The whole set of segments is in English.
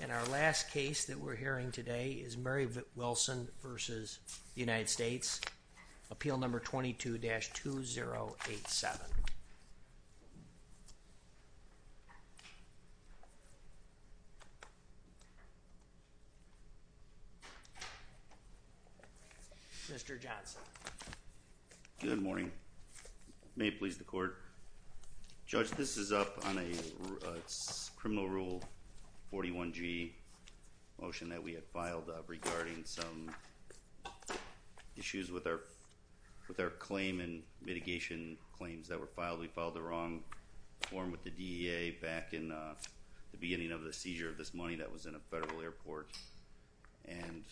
And our last case that we're hearing today is Mary Wilson v. United States, Appeal Number 22-2087. Mr. Johnson. Good morning. May it please the court. Judge, this is up on a criminal rule 41-g motion that we had filed regarding some issues with our claim and mitigation claims that were filed. We filed the wrong form with the DEA back in the beginning of the seizure of this money that was in a federal airport and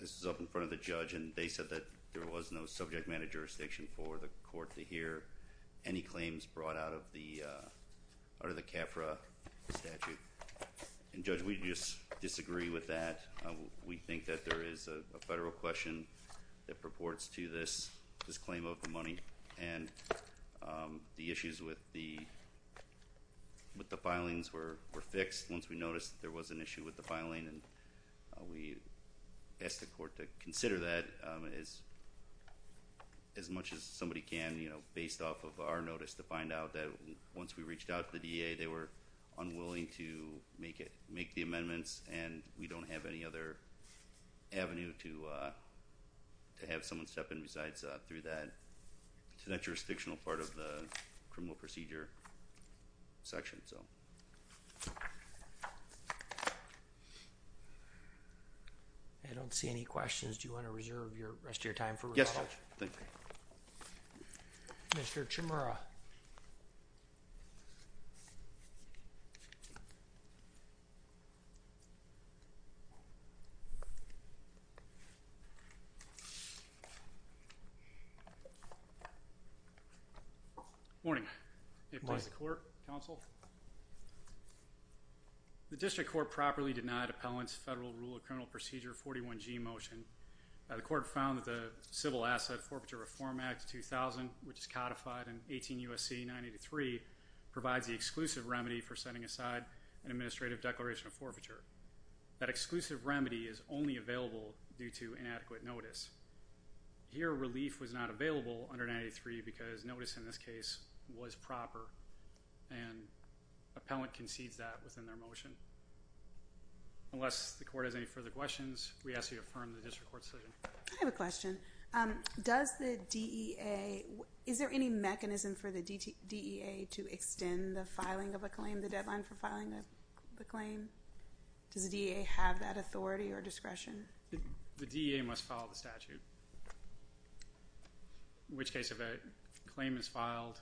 this is up in front of the judge and they said that there was no subject matter jurisdiction for the court to hear any claims brought out of the CAFRA statute and judge, we just disagree with that. We think that there is a federal question that purports to this claim of the money and the issues with the filings were fixed once we noticed that there was an issue with the As much as somebody can, you know, based off of our notice to find out that once we reached out to the DEA, they were unwilling to make the amendments and we don't have any other avenue to have someone step in besides through that jurisdictional part of the criminal procedure section. I don't see any questions, do you want to reserve the rest of your time for rebuttal? Yes, thank you. Mr. Chimura. Morning. Good morning. The District Court properly denied Appellant's Federal Rule of Criminal Procedure 41G motion. The court found that the Civil Asset Forfeiture Reform Act 2000, which is codified in 18 U.S.C. 983, provides the exclusive remedy for setting aside an administrative declaration of forfeiture. That exclusive remedy is only available due to inadequate notice. Here, relief was not available under 983 because notice in this case was proper and Appellant concedes that within their motion. Unless the court has any further questions, we ask that you affirm the District Court's decision. I have a question. Does the DEA, is there any mechanism for the DEA to extend the filing of a claim, the deadline for filing the claim? Does the DEA have that authority or discretion? The DEA must follow the statute, in which case if a claim is filed,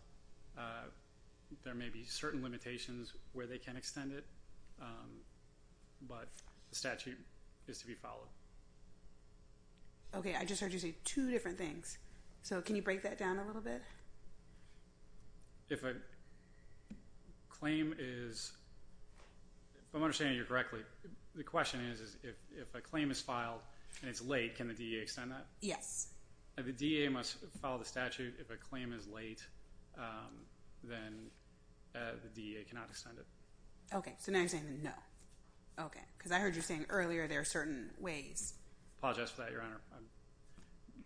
there may be certain limitations where they can extend it, but the statute is to be followed. Okay, I just heard you say two different things, so can you break that down a little bit? If a claim is, if I'm understanding you correctly, the question is if a claim is filed and it's late, can the DEA extend that? Yes. The DEA must follow the statute. If a claim is late, then the DEA cannot extend it. Okay, so now you're saying no. Okay, because I heard you saying earlier there are certain ways. I apologize for that, Your Honor.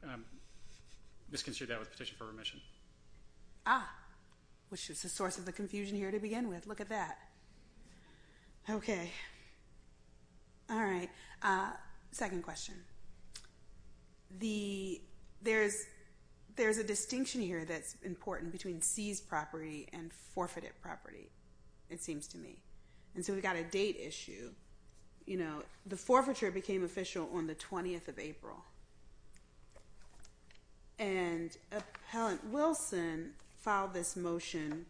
I misconsidered that with petition for remission. Ah, which is a source of the confusion here to begin with. Look at that. Okay. All right, second question. There is a distinction here that's important between seized property and forfeited property, it seems to me. And so we've got a date issue. You know, the forfeiture became official on the 20th of April. And Appellant Wilson filed this motion,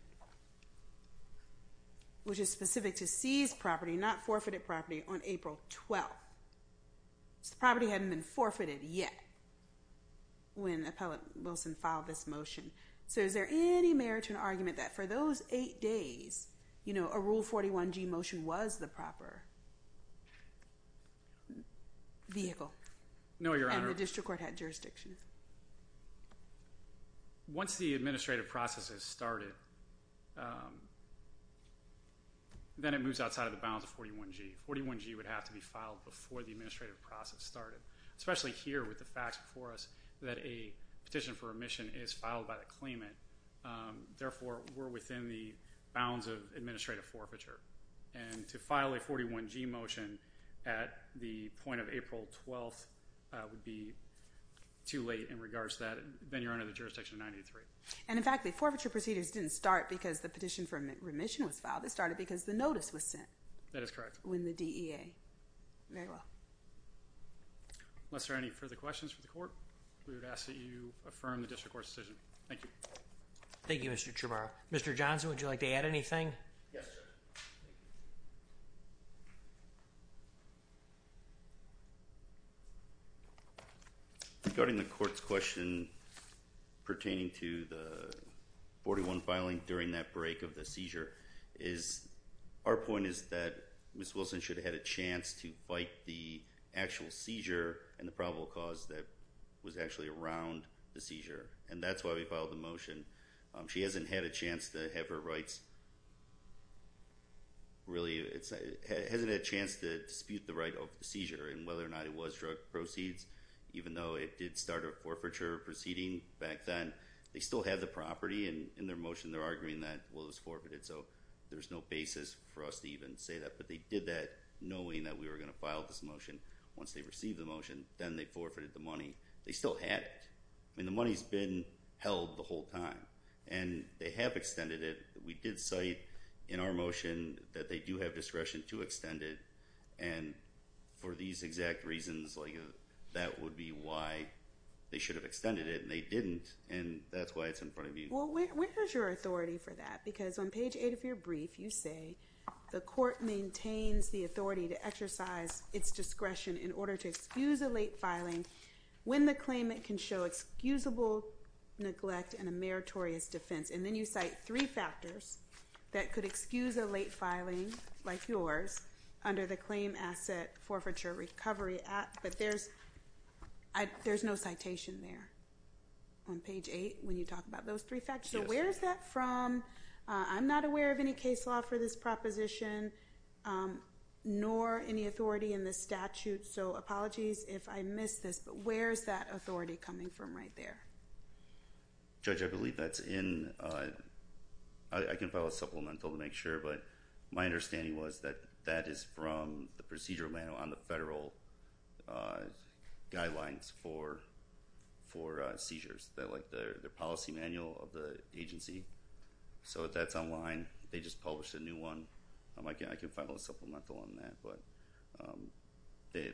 which is specific to seized property, not forfeited property, on April 12th. So the property hadn't been forfeited yet when Appellant Wilson filed this motion. So is there any merit to an argument that for those eight days, you know, a Rule 41G motion was the proper vehicle? No, Your Honor. And the district court had jurisdiction. Once the administrative process has started, then it moves outside of the bounds of 41G. 41G would have to be filed before the administrative process started, especially here with the facts before us that a petition for remission is filed by the claimant. Therefore, we're within the bounds of administrative forfeiture. And to file a 41G motion at the point of April 12th would be too late in regards to that. Then you're under the jurisdiction of 98-3. And, in fact, the forfeiture procedures didn't start because the petition for remission was filed. They started because the notice was sent. That is correct. When the DEA. Very well. Unless there are any further questions for the court, we would ask that you affirm the district court's decision. Thank you. Thank you, Mr. Tremorrow. Mr. Johnson, would you like to add anything? Yes, sir. Regarding the court's question pertaining to the 41 filing during that break of the seizure, our point is that Ms. Wilson should have had a chance to fight the actual seizure and the probable cause that was actually around the seizure. And that's why we filed the motion. She hasn't had a chance to have her rights really. It hasn't had a chance to dispute the right of the seizure and whether or not it was drug proceeds, even though it did start a forfeiture proceeding back then. They still have the property. And in their motion, they're arguing that, well, it was forfeited. So there's no basis for us to even say that. But they did that knowing that we were going to file this motion. Once they received the motion, then they forfeited the money. They still had it. I mean, the money's been held the whole time. And they have extended it. We did cite in our motion that they do have discretion to extend it. And for these exact reasons, that would be why they should have extended it. And they didn't. And that's why it's in front of you. Well, where is your authority for that? Because on page 8 of your brief, you say, the court maintains the authority to exercise its discretion in order to excuse a late filing when the claimant can show excusable neglect and a meritorious defense. And then you cite three factors that could excuse a late filing like yours under the Claim Asset Forfeiture Recovery Act. But there's no citation there on page 8 when you talk about those three factors. So where is that from? I'm not aware of any case law for this proposition, nor any authority in the statute. So apologies if I missed this. But where is that authority coming from right there? Judge, I believe that's in – I can file a supplemental to make sure. But my understanding was that that is from the procedure manual on the federal guidelines for seizures, like the policy manual of the agency. So that's online. They just published a new one. I can file a supplemental on that. But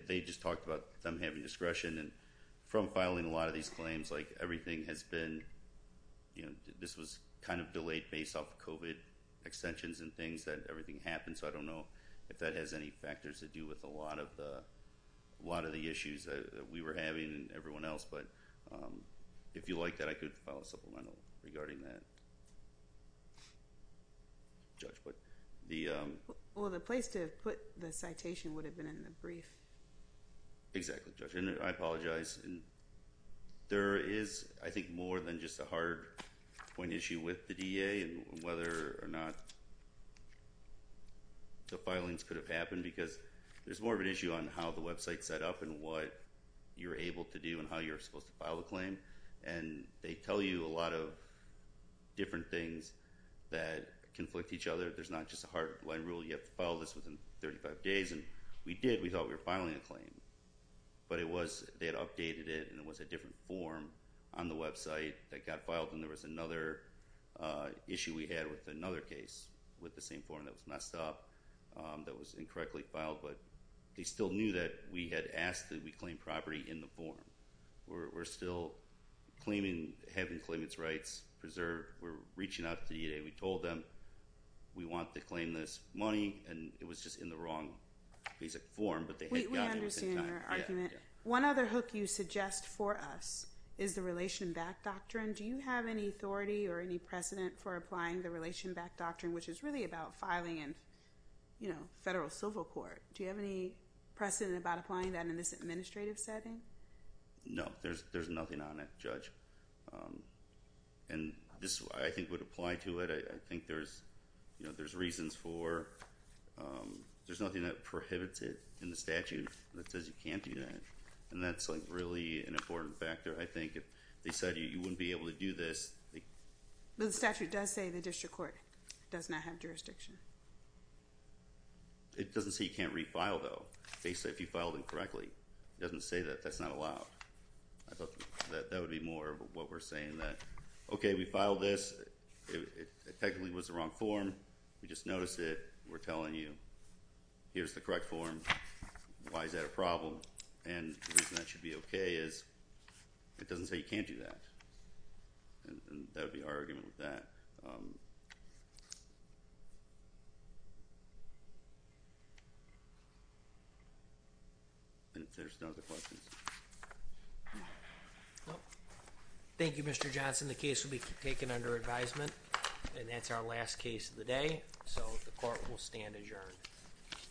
they just talked about them having discretion. And from filing a lot of these claims, like everything has been – based off COVID extensions and things, that everything happens. So I don't know if that has any factors to do with a lot of the issues that we were having and everyone else. But if you like that, I could file a supplemental regarding that. Judge, but the – Well, the place to have put the citation would have been in the brief. Exactly, Judge. I apologize. There is, I think, more than just a hard point issue with the DEA and whether or not the filings could have happened because there's more of an issue on how the website is set up and what you're able to do and how you're supposed to file a claim. And they tell you a lot of different things that conflict each other. There's not just a hard line rule. You have to file this within 35 days. And we did. We thought we were filing a claim. But it was – they had updated it, and it was a different form on the website that got filed, and there was another issue we had with another case with the same form that was messed up, that was incorrectly filed. But they still knew that we had asked that we claim property in the form. We're still claiming – having the claimants' rights preserved. We're reaching out to the DEA. We told them we want to claim this money, and it was just in the wrong basic form. But they had gotten it within time. We understand your argument. One other hook you suggest for us is the relation back doctrine. Do you have any authority or any precedent for applying the relation back doctrine, which is really about filing in federal civil court? Do you have any precedent about applying that in this administrative setting? No, there's nothing on it, Judge. And this, I think, would apply to it. I think there's reasons for – there's nothing that prohibits it in the statute that says you can't do that. And that's, like, really an important factor, I think. If they said you wouldn't be able to do this. The statute does say the district court does not have jurisdiction. It doesn't say you can't refile, though, basically, if you filed incorrectly. It doesn't say that that's not allowed. I thought that would be more of what we're saying, that, okay, we filed this. It technically was the wrong form. We just noticed it. We're telling you here's the correct form. Why is that a problem? And the reason that should be okay is it doesn't say you can't do that. And that would be our argument with that. Thank you. And if there's no other questions. Thank you, Mr. Johnson. The case will be taken under advisement. And that's our last case of the day. So the court will stand adjourned.